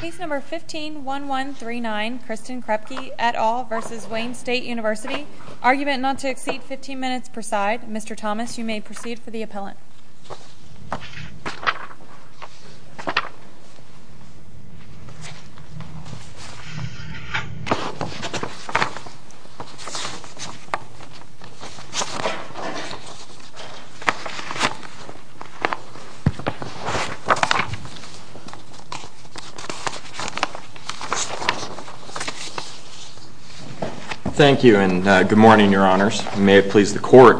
Case number 15-1139, Kristen Kreipke et al. v. Wayne State University Argument not to exceed 15 minutes per side. Mr. Thomas, you may proceed for the appellant. Thank you and good morning, your honors. May it please the court,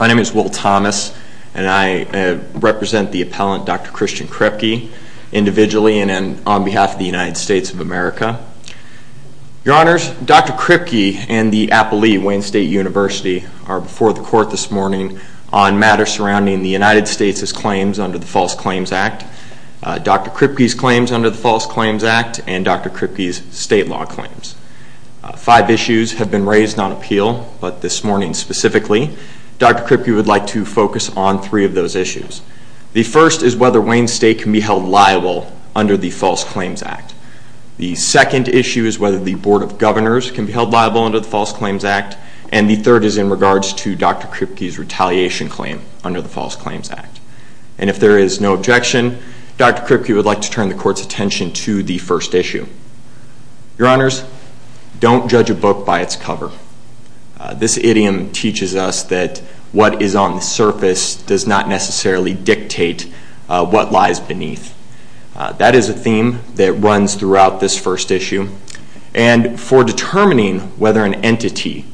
my name is Will Thomas and I represent the appellant, Dr. Christian Kreipke, individually and on behalf of the United States of America. Your honors, Dr. Kreipke and the appellee, Wayne State University, are before the court this morning on matters surrounding the United States' claims under the False Claims Act, Dr. Kreipke's claims under the False Claims Act, and Dr. Kreipke's state law claims. Five issues have been raised on appeal, but this morning specifically, Dr. Kreipke would like to focus on three of those issues. The first is whether Wayne State can be held liable under the False Claims Act. The second issue is whether the Board of Governors can be held liable under the False Claims Act. And the third is in regards to Dr. Kreipke's retaliation claim under the False Claims Act. And if there is no objection, Dr. Kreipke would like to turn the court's attention to the first issue. Your honors, don't judge a book by its cover. This idiom teaches us that what is on the surface does not necessarily dictate what lies beneath. That is a theme that runs throughout this first issue. And for determining whether an entity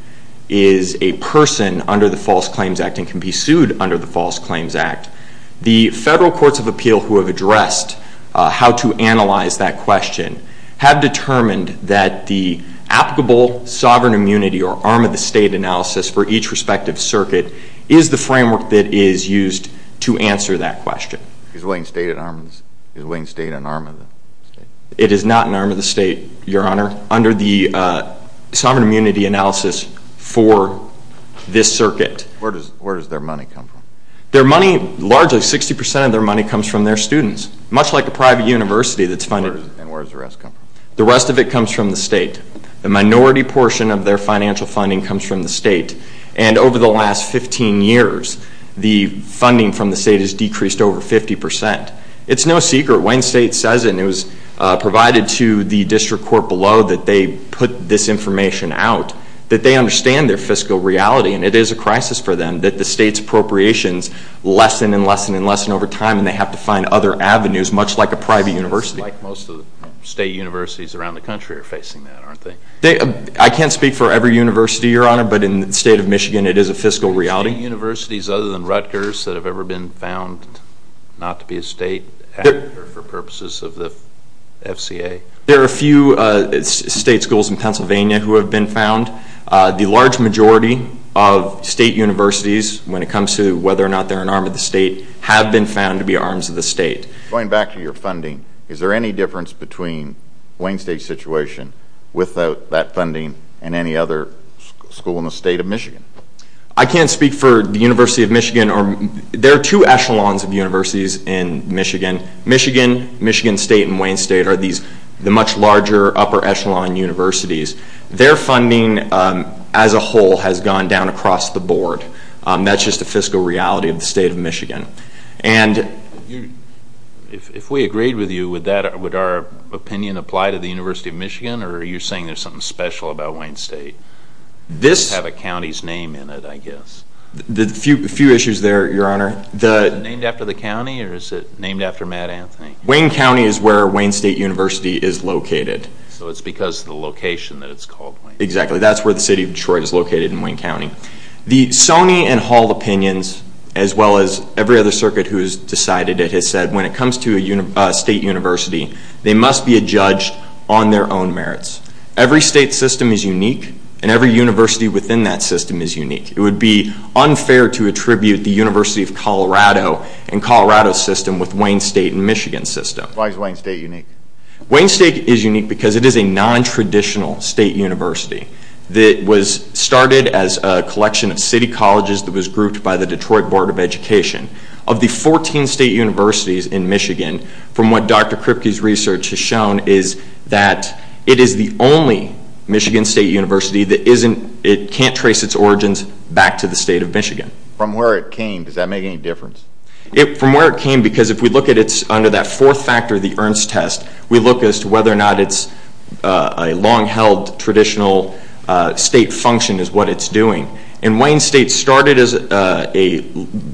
is a person under the False Claims Act and can be sued under the False Claims Act, the federal courts of appeal who have addressed how to analyze that question have determined that the applicable sovereign immunity or arm-of-the-state analysis for each respective circuit is the framework that is used to answer that question. Is Wayne State an arm-of-the-state? It is not an arm-of-the-state, your honor, under the sovereign immunity analysis for this circuit. Where does their money come from? Their money, largely 60% of their money comes from their students, much like a private university that's funded. And where does the rest come from? The rest of it comes from the state. The minority portion of their financial funding comes from the state. And over the last 15 years, the funding from the state has decreased over 50%. It's no secret, Wayne State says, and it was provided to the district court below that they put this information out, that they understand their fiscal reality. And it is a crisis for them that the state's appropriations lessen and lessen and lessen over time, and they have to find other avenues, much like a private university. It seems like most of the state universities around the country are facing that, aren't they? I can't speak for every university, your honor, but in the state of Michigan, it is a fiscal reality. Are there any universities other than Rutgers that have ever been found not to be a state for purposes of the FCA? There are a few state schools in Pennsylvania who have been found. The large majority of state universities, when it comes to whether or not they're an arm of the state, have been found to be arms of the state. Going back to your funding, is there any difference between Wayne State's situation without that funding and any other school in the state of Michigan? I can't speak for the University of Michigan. There are two echelons of universities in Michigan. Michigan, Michigan State, and Wayne State are the much larger upper echelon universities. Their funding, as a whole, has gone down across the board. That's just a fiscal reality of the state of Michigan. If we agreed with you, would our opinion apply to the University of Michigan, or are you saying there's something special about Wayne State? It would have a county's name in it, I guess. A few issues there, your honor. Is it named after the county, or is it named after Matt Anthony? Wayne County is where Wayne State University is located. So it's because of the location that it's called. Exactly. That's where the city of Detroit is located in Wayne County. The Sony and Hall opinions, as well as every other circuit who has decided it, has said when it comes to a state university, they must be a judge on their own merits. Every state system is unique, and every university within that system is unique. It would be unfair to attribute the University of Colorado and Colorado system with Wayne State and Michigan system. Why is Wayne State unique? Wayne State is unique because it is a non-traditional state university. It was started as a collection of city colleges that was grouped by the Detroit Board of Education. Of the 14 state universities in Michigan, from what Dr. Kripke's research has shown, it is the only Michigan state university that can't trace its origins back to the state of Michigan. From where it came, does that make any difference? From where it came, because if we look at it under that fourth factor, the Ernst test, we look as to whether or not it's a long-held traditional state function is what it's doing. Wayne State started as a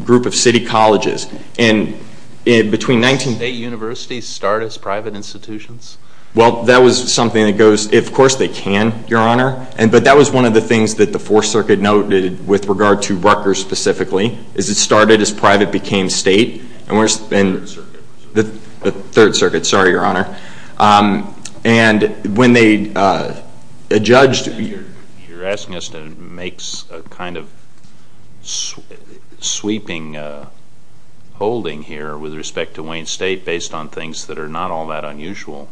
group of city colleges. Did state universities start as private institutions? That was something that goes, of course they can, your honor, but that was one of the things that the Fourth Circuit noted with regard to Rutgers specifically. It started as private, became state. The Third Circuit, sorry, your honor. You're asking us to make a kind of sweeping holding here with respect to Wayne State based on things that are not all that unusual.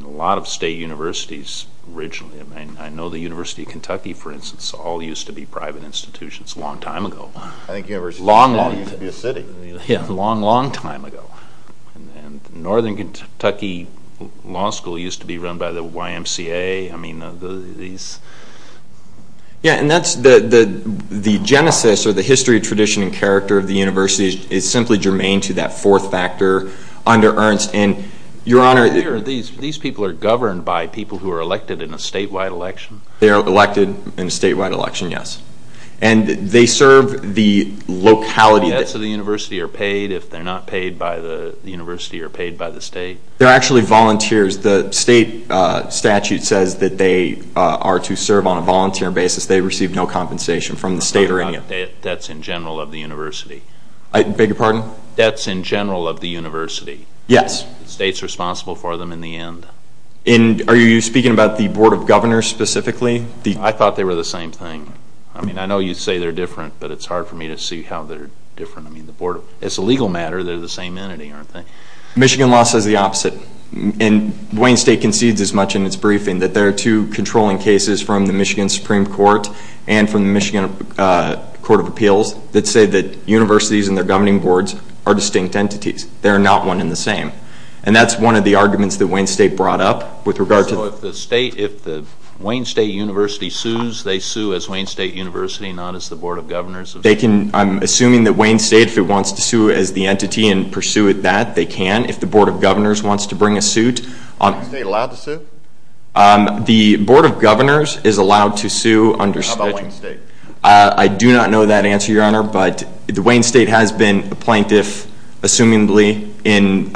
A lot of state universities originally, I know the University of Kentucky, for instance, all used to be private institutions a long time ago. I think the University of Kentucky used to be a city. A long, long time ago. Northern Kentucky Law School used to be run by the YMCA. Yeah, and that's the genesis or the history, tradition, and character of the university is simply germane to that fourth factor under Ernst. Your honor, these people are governed by people who are elected in a statewide election. They are elected in a statewide election, yes. And they serve the locality. Debts of the university are paid if they're not paid by the university or paid by the state. They're actually volunteers. The state statute says that they are to serve on a volunteer basis. They receive no compensation from the state. I'm talking about debts in general of the university. I beg your pardon? Debts in general of the university. Yes. The state's responsible for them in the end. Are you speaking about the Board of Governors specifically? I thought they were the same thing. I mean, I know you say they're different, but it's hard for me to see how they're different. I mean, it's a legal matter. They're the same entity, aren't they? Michigan law says the opposite. And Wayne State concedes as much in its briefing that there are two controlling cases from the Michigan Supreme Court and from the Michigan Court of Appeals that say that universities and their governing boards are distinct entities. They are not one and the same. And that's one of the arguments that Wayne State brought up with regard to the state, if the Wayne State University sues, they sue as Wayne State University, not as the Board of Governors. I'm assuming that Wayne State, if it wants to sue as the entity and pursue it that, they can. If the Board of Governors wants to bring a suit. Is Wayne State allowed to sue? The Board of Governors is allowed to sue under statute. How about Wayne State? I do not know that answer, Your Honor, but the Wayne State has been a plaintiff, assumingly, in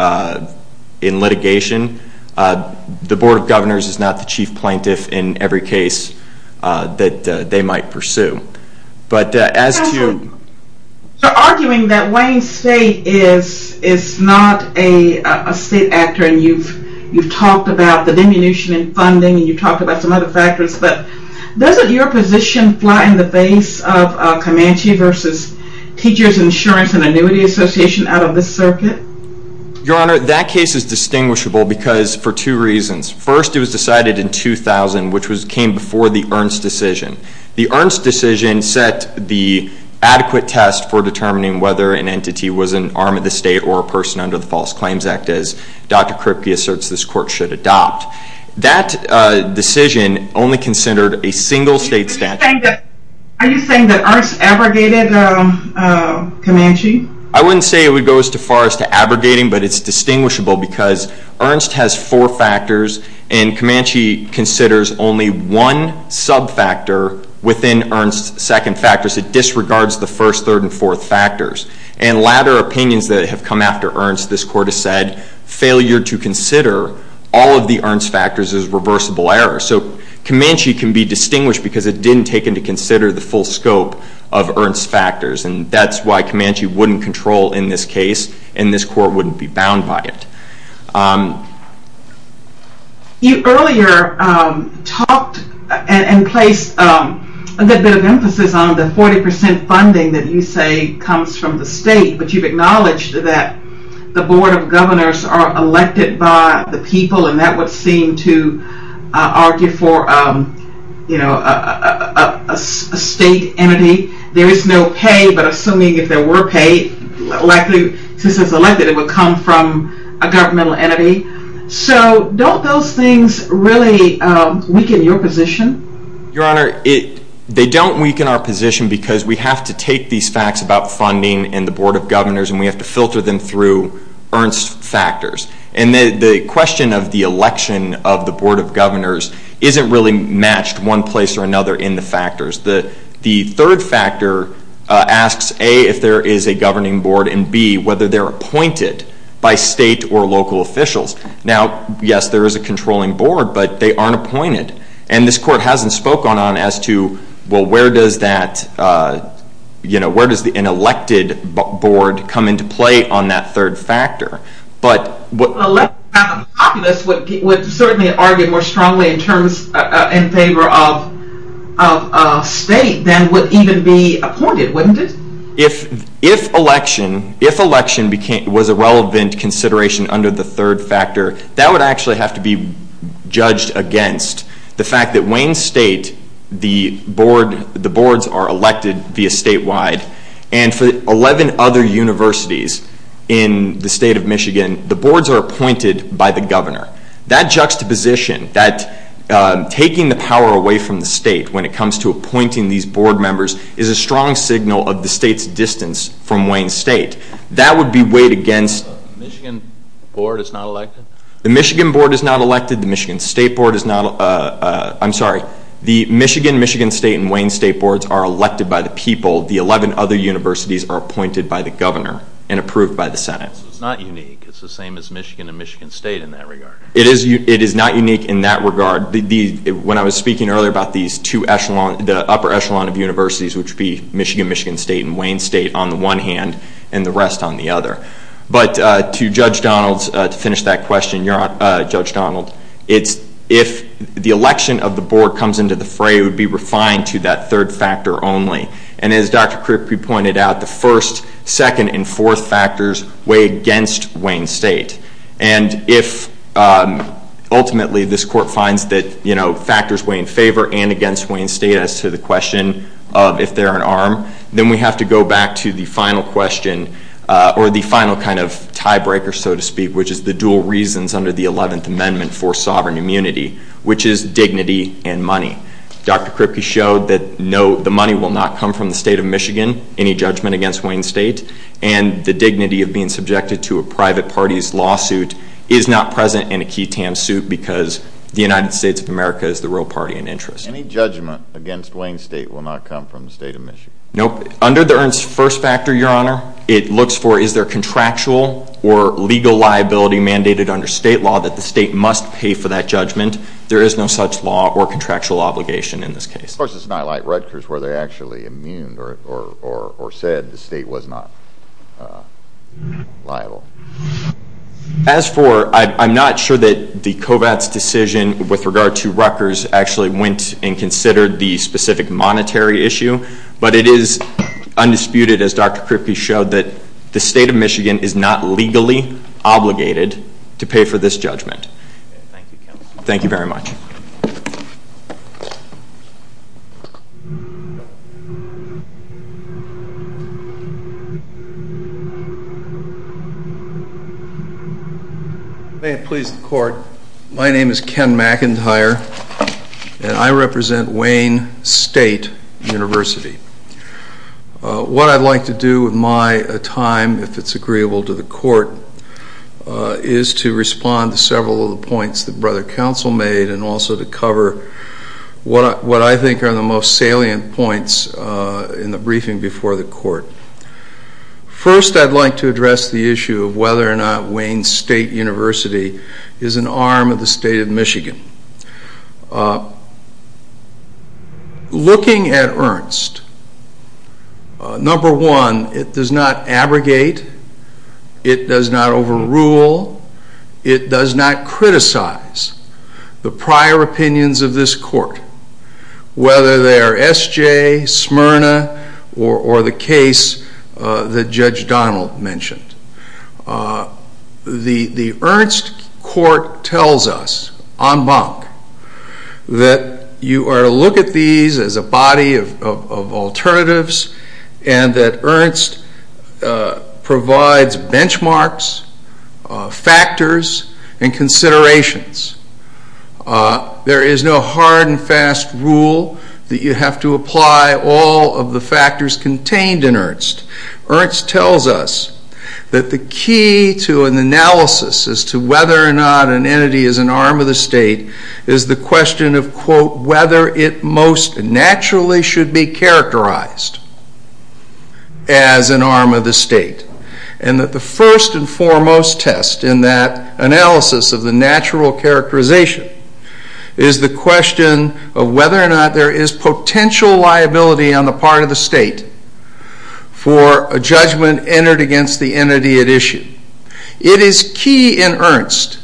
litigation. The Board of Governors is not the chief plaintiff in every case that they might pursue. But as to... You're arguing that Wayne State is not a state actor and you've talked about the diminution in funding and you've talked about some other factors, but doesn't your position fly in the face of Comanche versus Teachers Insurance and Annuity Association out of this circuit? Your Honor, that case is distinguishable because for two reasons. First, it was decided in 2000, which came before the Ernst decision. The Ernst decision set the adequate test for determining whether an entity was an arm of the state or a person under the False Claims Act, as Dr. Kripke asserts this court should adopt. That decision only considered a single state statute. Are you saying that Ernst abrogated Comanche? I wouldn't say it would go as far as to abrogating, but it's distinguishable because Ernst has four factors and Comanche considers only one sub-factor within Ernst's second factors. It disregards the first, third, and fourth factors. And latter opinions that have come after Ernst, this court has said, failure to consider all of the Ernst factors is reversible error. So Comanche can be distinguished because it didn't take into consider the full scope of Ernst's factors, and that's why Comanche wouldn't control in this case, and this court wouldn't be bound by it. You earlier talked and placed a bit of emphasis on the 40% funding that you say comes from the state, but you've acknowledged that the Board of Governors are elected by the people, and that would seem to argue for a state entity. There is no pay, but assuming if there were pay, since it's elected, it would come from a governmental entity. So don't those things really weaken your position? Your Honor, they don't weaken our position because we have to take these facts about funding and the Board of Governors, and we have to filter them through Ernst's factors. And the question of the election of the Board of Governors isn't really matched one place or another in the factors. The third factor asks, A, if there is a governing board, and, B, whether they're appointed by state or local officials. Now, yes, there is a controlling board, but they aren't appointed, and this court hasn't spoken on as to, well, where does that, you know, where does an elected board come into play on that third factor? But what... A populist would certainly argue more strongly in terms, in favor of state than would even be appointed, wouldn't it? If election, if election was a relevant consideration under the third factor, that would actually have to be judged against the fact that Wayne State, the board, the boards are elected via statewide, and for 11 other universities in the state of Michigan, the boards are appointed by the governor. That juxtaposition, that taking the power away from the state when it comes to appointing these board members, is a strong signal of the state's distance from Wayne State. That would be weighed against... The Michigan board is not elected? The Michigan board is not elected, the Michigan State board is not... I'm sorry, the Michigan, Michigan State, and Wayne State boards are elected by the people, the 11 other universities are appointed by the governor and approved by the Senate. So it's not unique, it's the same as Michigan and Michigan State in that regard. It is not unique in that regard. When I was speaking earlier about these two echelons, the upper echelon of universities, which would be Michigan, Michigan State, and Wayne State on the one hand, and the rest on the other. But to Judge Donald's, to finish that question, Judge Donald, it's if the election of the board comes into the fray, it would be refined to that third factor only. And as Dr. Kripke pointed out, the first, second, and fourth factors weigh against Wayne State. And if, ultimately, this court finds that factors weigh in favor and against Wayne State as to the question of if they're an arm, then we have to go back to the final question, or the final kind of tiebreaker, so to speak, which is the dual reasons under the 11th Amendment for sovereign immunity, which is dignity and money. Dr. Kripke showed that the money will not come from the State of Michigan, any judgment against Wayne State, and the dignity of being subjected to a private party's lawsuit is not present in a key TAM suit because the United States of America is the real party in interest. Any judgment against Wayne State will not come from the State of Michigan? Nope. Under the Ernst first factor, Your Honor, it looks for is there contractual or legal liability mandated under state law that the state must pay for that judgment. There is no such law or contractual obligation in this case. Of course, it's not like Rutgers where they're actually immune or said the state was not liable. As for, I'm not sure that the COVATS decision with regard to Rutgers actually went and considered the specific monetary issue, but it is undisputed, as Dr. Kripke showed, that the State of Michigan is not legally obligated to pay for this judgment. Thank you, counsel. Thank you very much. May it please the court. My name is Ken McIntyre, and I represent Wayne State University. What I'd like to do with my time, if it's agreeable to the court, is to respond to several of the points that Brother Counsel made and also to cover what I think are the most salient points in the briefing before the court. First, I'd like to address the issue of whether or not Wayne State University is an arm of the State of Michigan. Looking at Ernst, number one, it does not abrogate. It does not overrule. It does not criticize the prior opinions of this court, whether they are SJ, Smyrna, or the case that Judge Donald mentioned. The Ernst court tells us en banc that you are to look at these as a body of alternatives and that Ernst provides benchmarks, factors, and considerations. There is no hard and fast rule that you have to apply all of the factors contained in Ernst. Ernst tells us that the key to an analysis as to whether or not an entity is an arm of the State is the question of whether it most naturally should be characterized as an arm of the State and that the first and foremost test in that analysis of the natural characterization is the question of whether or not there is potential liability on the part of the State for a judgment entered against the entity at issue. It is key in Ernst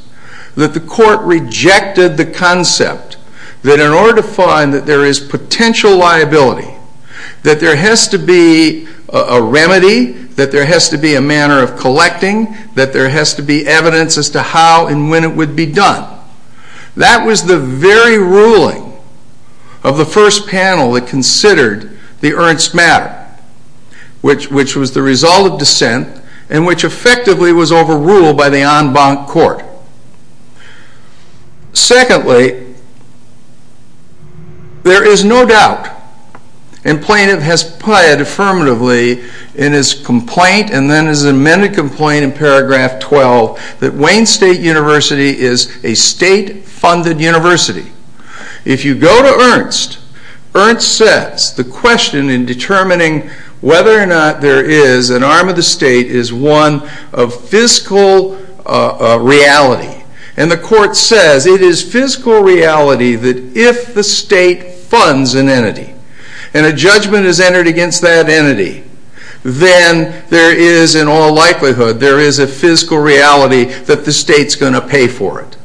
that the court rejected the concept that in order to find that there is potential liability, that there has to be a remedy, that there has to be a manner of collecting, that there has to be evidence as to how and when it would be done. That was the very ruling of the first panel that considered the Ernst matter, which was the result of dissent and which effectively was overruled by the en banc court. Secondly, there is no doubt, and Plaintiff has plied affirmatively in his complaint and then his amended complaint in paragraph 12, that Wayne State University is a state-funded university. If you go to Ernst, Ernst says the question in determining whether or not there is an arm of the State is one of fiscal reality. And the court says it is physical reality that if the State funds an entity and a judgment is entered against that entity, then there is in all likelihood there is a physical reality that the State is going to pay for it.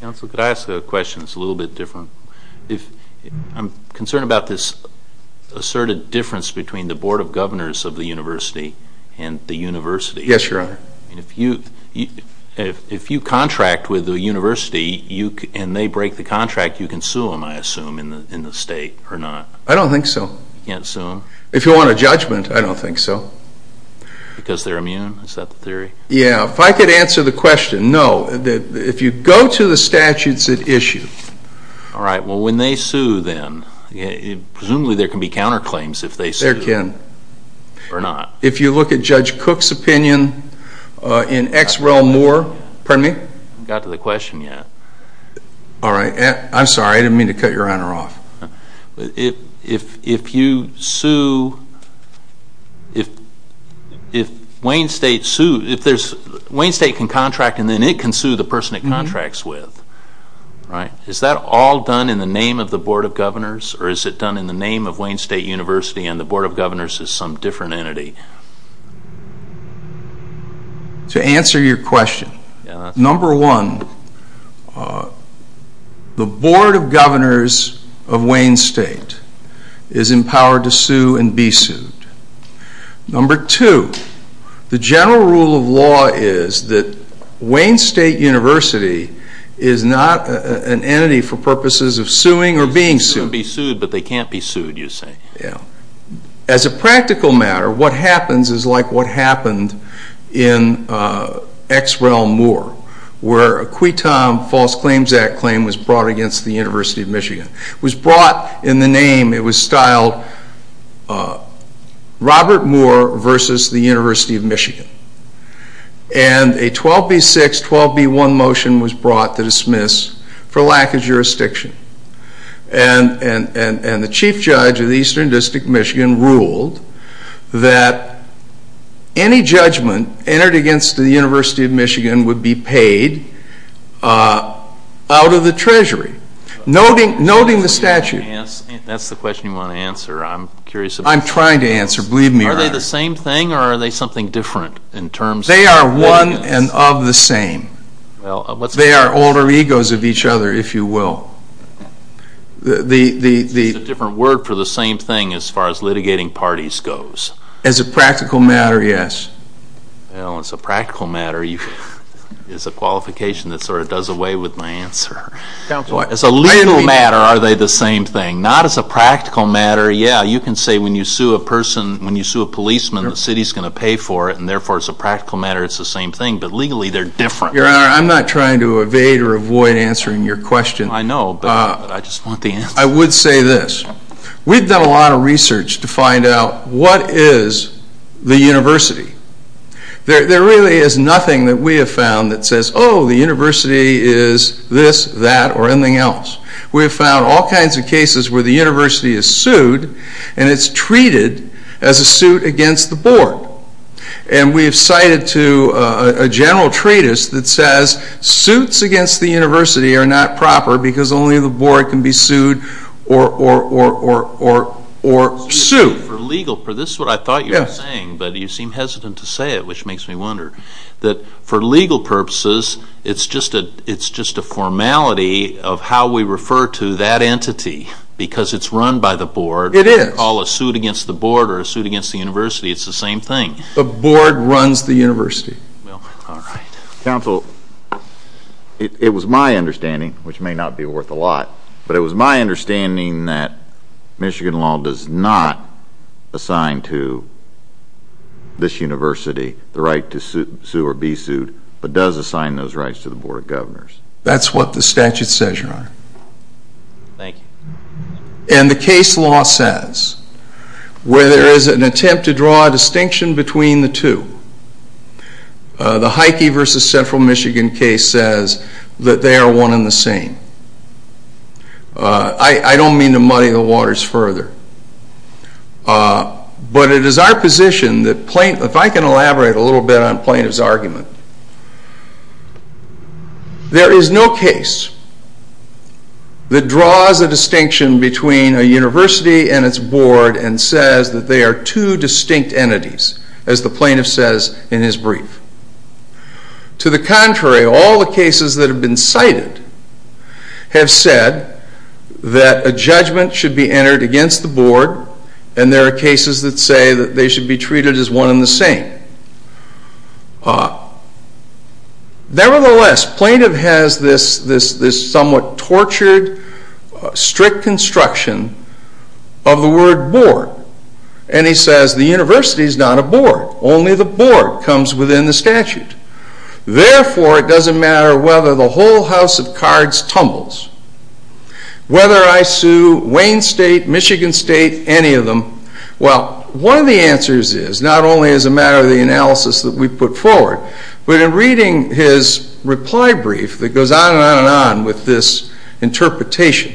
Counsel, could I ask a question that is a little bit different? I am concerned about this asserted difference between the Board of Governors of the university and the university. Yes, Your Honor. If you contract with a university and they break the contract, you can sue them, I assume, in the State or not? I don't think so. You can't sue them? If you want a judgment, I don't think so. Because they are immune? Is that the theory? Yes. If I could answer the question, no. If you go to the statutes at issue. All right. Well, when they sue then, presumably there can be counterclaims if they sue? There can. Or not? If you look at Judge Cook's opinion in X. Rel. Moore. Pardon me? I haven't got to the question yet. All right. I am sorry. I didn't mean to cut Your Honor off. If you sue, if Wayne State can contract and then it can sue the person it contracts with, right? Is that all done in the name of the Board of Governors or is it done in the name of Wayne State University and the Board of Governors is some different entity? To answer your question. Number one, the Board of Governors of Wayne State is empowered to sue and be sued. Number two, the general rule of law is that Wayne State University is not an entity for purposes of suing or being sued. They can be sued, but they can't be sued, you say? As a practical matter, what happens is like what happened in X. Rel. Moore where a Quiton False Claims Act claim was brought against the University of Michigan. It was brought in the name, it was styled Robert Moore versus the University of Michigan. And a 12B6, 12B1 motion was brought to dismiss for lack of jurisdiction. And the Chief Judge of the Eastern District of Michigan ruled that any judgment entered against the University of Michigan would be paid out of the treasury, noting the statute. That's the question you want to answer. I'm curious about the difference. I'm trying to answer, believe me or not. Are they the same thing or are they something different in terms of evidence? They are one and of the same. They are older egos of each other, if you will. It's a different word for the same thing as far as litigating parties goes. As a practical matter, yes. Well, as a practical matter, it's a qualification that sort of does away with my answer. As a legal matter, are they the same thing? Not as a practical matter, yeah. You can say when you sue a person, when you sue a policeman, the city is going to pay for it and therefore, as a practical matter, it's the same thing. But legally, they're different. Your Honor, I'm not trying to evade or avoid answering your question. I know, but I just want the answer. I would say this. We've done a lot of research to find out what is the university. There really is nothing that we have found that says, oh, the university is this, that, or anything else. We have found all kinds of cases where the university is sued and it's treated as a suit against the board. And we have cited to a general treatise that says suits against the university are not proper because only the board can be sued or sued. This is what I thought you were saying, but you seem hesitant to say it, which makes me wonder. That for legal purposes, it's just a formality of how we refer to that entity because it's run by the board. It is. If you call a suit against the board or a suit against the university, it's the same thing. The board runs the university. All right. Counsel, it was my understanding, which may not be worth a lot, but it was my understanding that Michigan law does not assign to this university the right to sue or be sued, but does assign those rights to the board of governors. That's what the statute says, Your Honor. Thank you. And the case law says where there is an attempt to draw a distinction between the two, the Heike v. Central Michigan case says that they are one and the same. I don't mean to muddy the waters further, but it is our position that if I can elaborate a little bit on plaintiff's argument, there is no case that draws a distinction between a university and its board and says that they are two distinct entities, as the plaintiff says in his brief. To the contrary, all the cases that have been cited have said that a judgment should be entered against the board, and there are cases that say that they should be treated as one and the same. Nevertheless, plaintiff has this somewhat tortured, strict construction of the word board, and he says the university is not a board, only the board comes within the statute. Therefore, it doesn't matter whether the whole house of cards tumbles, whether I sue Wayne State, Michigan State, any of them, well, one of the answers is not only as a matter of the analysis that we put forward, but in reading his reply brief that goes on and on and on with this interpretation,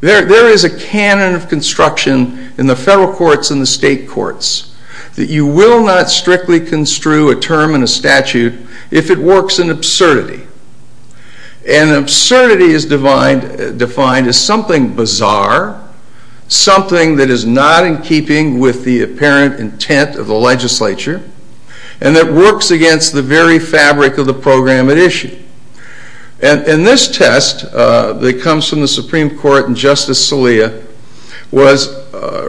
there is a canon of construction in the federal courts and the state courts that you will not strictly construe a term in a statute if it works in absurdity. And absurdity is defined as something bizarre, something that is not in keeping with the apparent intent of the legislature, and that works against the very fabric of the program at issue. And this test that comes from the Supreme Court in Justice Salia was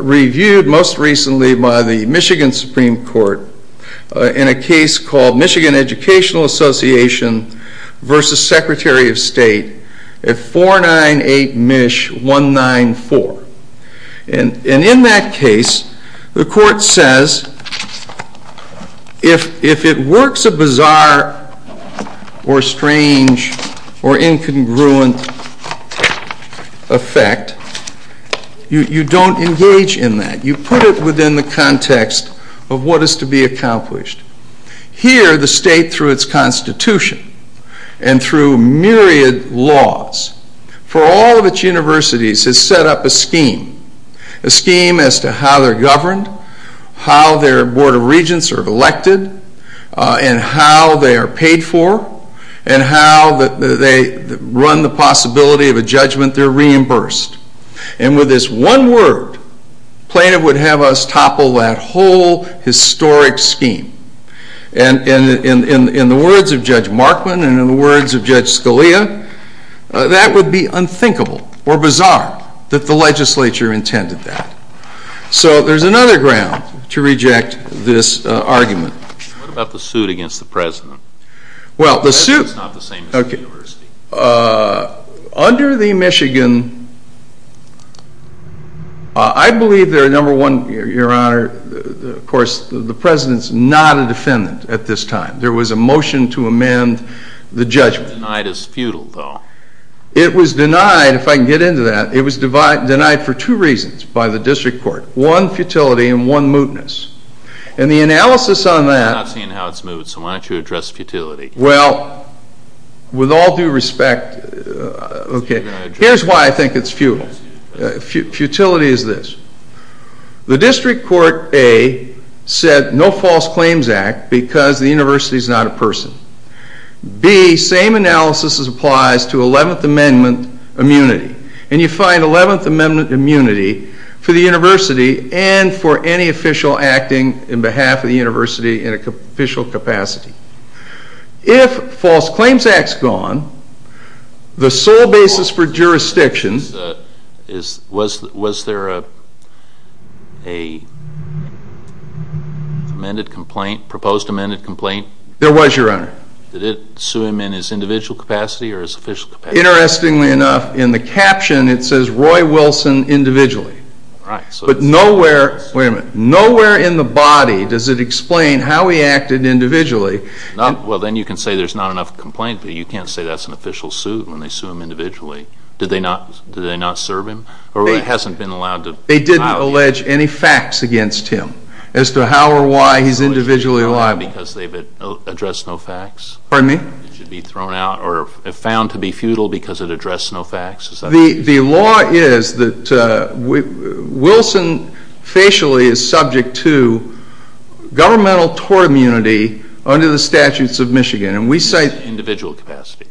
reviewed most recently by the Michigan Supreme Court in a case called Michigan Educational Association versus Secretary of State at 498 MISH 194. And in that case, the court says if it works a bizarre or strange or incongruent effect, you don't engage in that. You put it within the context of what is to be accomplished. Here, the state, through its Constitution and through myriad laws, for all of its universities has set up a scheme, a scheme as to how they're governed, how their Board of Regents are elected, and how they are paid for, and how they run the possibility of a judgment they're reimbursed. And with this one word, Plaintiff would have us topple that whole historic scheme. And in the words of Judge Markman and in the words of Judge Scalia, that would be unthinkable or bizarre that the legislature intended that. So there's another ground to reject this argument. What about the suit against the president? Well, the suit... The president's not the same as the university. Under the Michigan, I believe they're number one, Your Honor, of course, the president's not a defendant at this time. There was a motion to amend the judgment. Denied is futile, though. It was denied, if I can get into that. It was denied for two reasons by the district court. One, futility, and one, mootness. And the analysis on that... I'm not seeing how it's moot, so why don't you address futility? Well, with all due respect, okay, here's why I think it's futile. Futility is this. The district court, A, said no false claims act because the university's not a person. B, same analysis applies to 11th Amendment immunity. And you find 11th Amendment immunity for the university and for any official acting on behalf of the university in an official capacity. If false claims act's gone, the sole basis for jurisdiction... Was there a proposed amended complaint? There was, Your Honor. Did it sue him in his individual capacity or his official capacity? Interestingly enough, in the caption, it says Roy Wilson individually. Right. But nowhere in the body does it explain how he acted individually. Well, then you can say there's not enough complaint, but you can't say that's an official suit when they sue him individually. Did they not serve him? Or it hasn't been allowed to file him? They didn't allege any facts against him as to how or why he's individually liable. Because they addressed no facts? Pardon me? He should be thrown out or found to be futile because it addressed no facts? The law is that Wilson facially is subject to governmental tort immunity under the statutes of Michigan. And we cite... Individual capacity.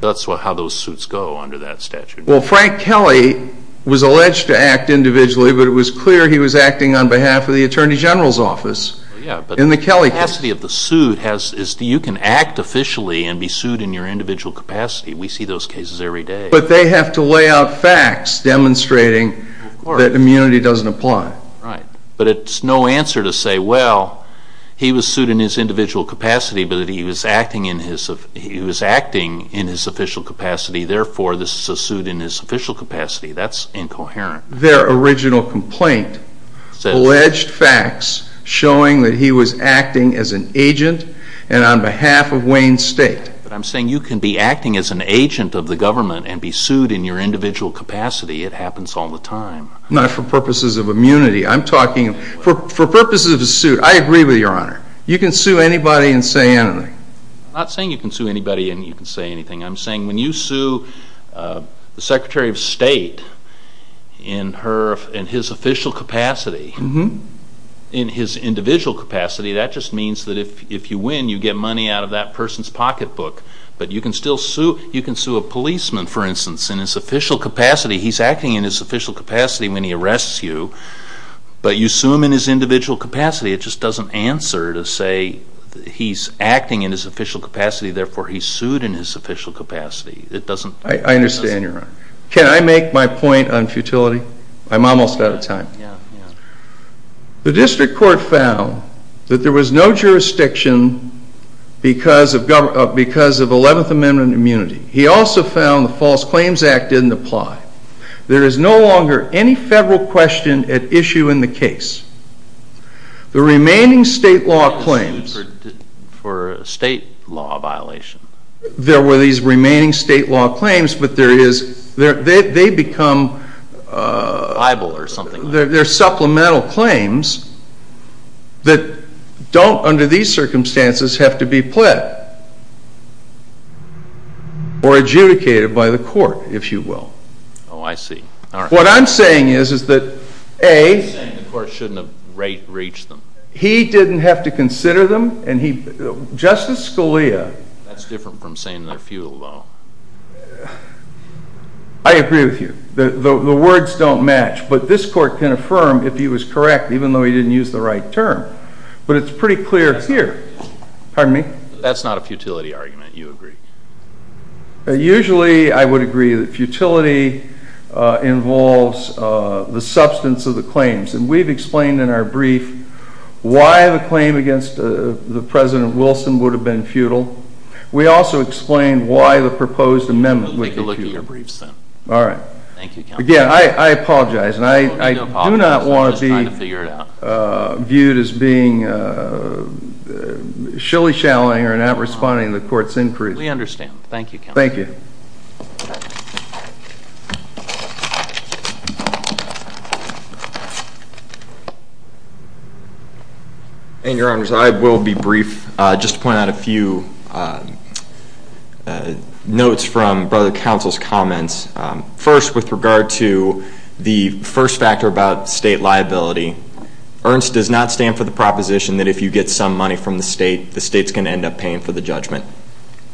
That's how those suits go under that statute. Well, Frank Kelly was alleged to act individually, but it was clear he was acting on behalf of the Attorney General's office. Yeah, but the capacity of the suit is that you can act officially and be sued in your individual capacity. We see those cases every day. But they have to lay out facts demonstrating that immunity doesn't apply. Right. But it's no answer to say, well, he was sued in his individual capacity, but he was acting in his official capacity. Therefore, this is a suit in his official capacity. That's incoherent. Their original complaint alleged facts showing that he was acting as an agent and on behalf of Wayne State. But I'm saying you can be acting as an agent of the government and be sued in your individual capacity. It happens all the time. Not for purposes of immunity. I'm talking for purposes of a suit. I agree with you, Your Honor. You can sue anybody and say anything. I'm not saying you can sue anybody and you can say anything. I'm saying when you sue the Secretary of State in his official capacity, in his individual capacity, that just means that if you win, you get money out of that person's pocketbook. But you can still sue. You can sue a policeman, for instance, in his official capacity. He's acting in his official capacity when he arrests you. But you sue him in his individual capacity. It just doesn't answer to say he's acting in his official capacity. Therefore, he's sued in his official capacity. I understand, Your Honor. Can I make my point on futility? I'm almost out of time. The district court found that there was no jurisdiction because of 11th Amendment immunity. He also found the False Claims Act didn't apply. There is no longer any federal question at issue in the case. The remaining state law claims. For a state law violation. There were these remaining state law claims, but they become… They're supplemental claims that don't, under these circumstances, have to be pled or adjudicated by the court, if you will. Oh, I see. What I'm saying is that, A, he didn't have to consider them. Justice Scalia… That's different from saying they're futile, though. I agree with you. The words don't match, but this court can affirm if he was correct, even though he didn't use the right term. But it's pretty clear here. Pardon me? That's not a futility argument. You agree. Usually, I would agree that futility involves the substance of the claims. And we've explained in our brief why the claim against President Wilson would have been futile. We also explained why the proposed amendment would be futile. All right. Again, I apologize, and I do not want to be viewed as being shilly-shallying or not responding to the court's inquiry. We understand. Thank you, Counsel. Thank you. Thank you. And, Your Honors, I will be brief, just to point out a few notes from Brother Counsel's comments. First, with regard to the first factor about state liability, Ernst does not stand for the proposition that if you get some money from the state, the state's going to end up paying for the judgment.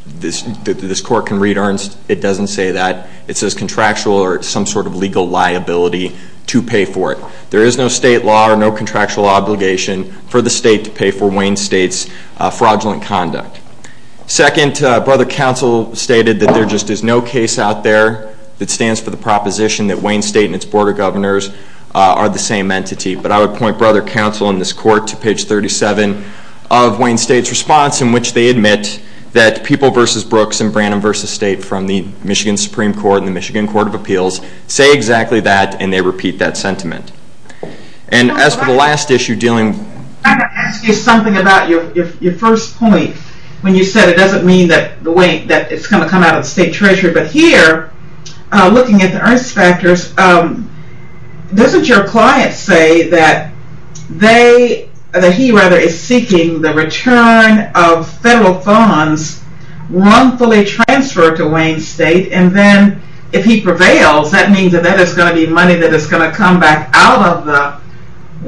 This Court can read Ernst. It doesn't say that. It says contractual or some sort of legal liability to pay for it. There is no state law or no contractual obligation for the state to pay for Wayne State's fraudulent conduct. Second, Brother Counsel stated that there just is no case out there that stands for the proposition that Wayne State and its Board of Governors are the same entity. But I would point Brother Counsel in this Court to page 37 of Wayne State's response in which they admit that people versus Brooks and Branham versus State from the Michigan Supreme Court and the Michigan Court of Appeals say exactly that, and they repeat that sentiment. And as for the last issue dealing with… I've got to ask you something about your first point when you said it doesn't mean that it's going to come out of the state treasury. But here, looking at the Ernst factors, doesn't your client say that he rather is seeking the return of federal funds wrongfully transferred to Wayne State, and then if he prevails, that means that that is going to be money that is going to come back out of the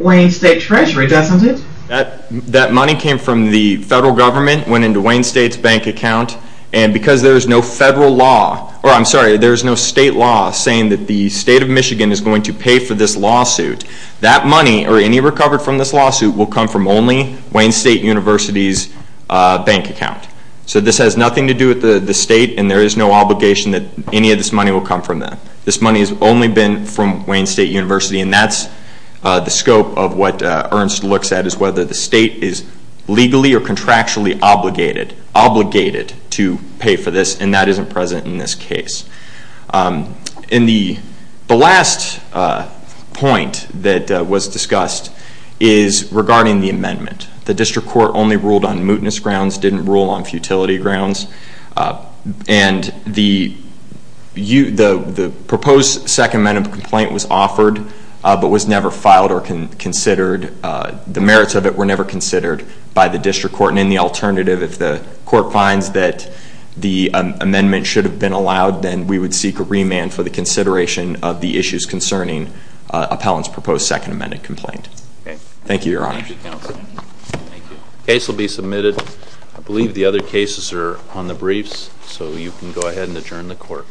Wayne State treasury, doesn't it? That money came from the federal government, went into Wayne State's bank account, and because there is no federal law, or I'm sorry, there is no state law saying that the state of Michigan is going to pay for this lawsuit, that money or any recovered from this lawsuit will come from only Wayne State University's bank account. So this has nothing to do with the state, and there is no obligation that any of this money will come from them. This money has only been from Wayne State University, and that's the scope of what Ernst looks at, is whether the state is legally or contractually obligated to pay for this, and that isn't present in this case. And the last point that was discussed is regarding the amendment. The district court only ruled on mootness grounds, didn't rule on futility grounds. And the proposed second amendment complaint was offered, but was never filed or considered. The merits of it were never considered by the district court, and in the alternative, if the court finds that the amendment should have been allowed, then we would seek a remand for the consideration of the issues concerning appellant's proposed second amendment complaint. Thank you, Your Honor. Thank you, Counsel. The case will be submitted. I believe the other cases are on the briefs, so you can go ahead and adjourn the court.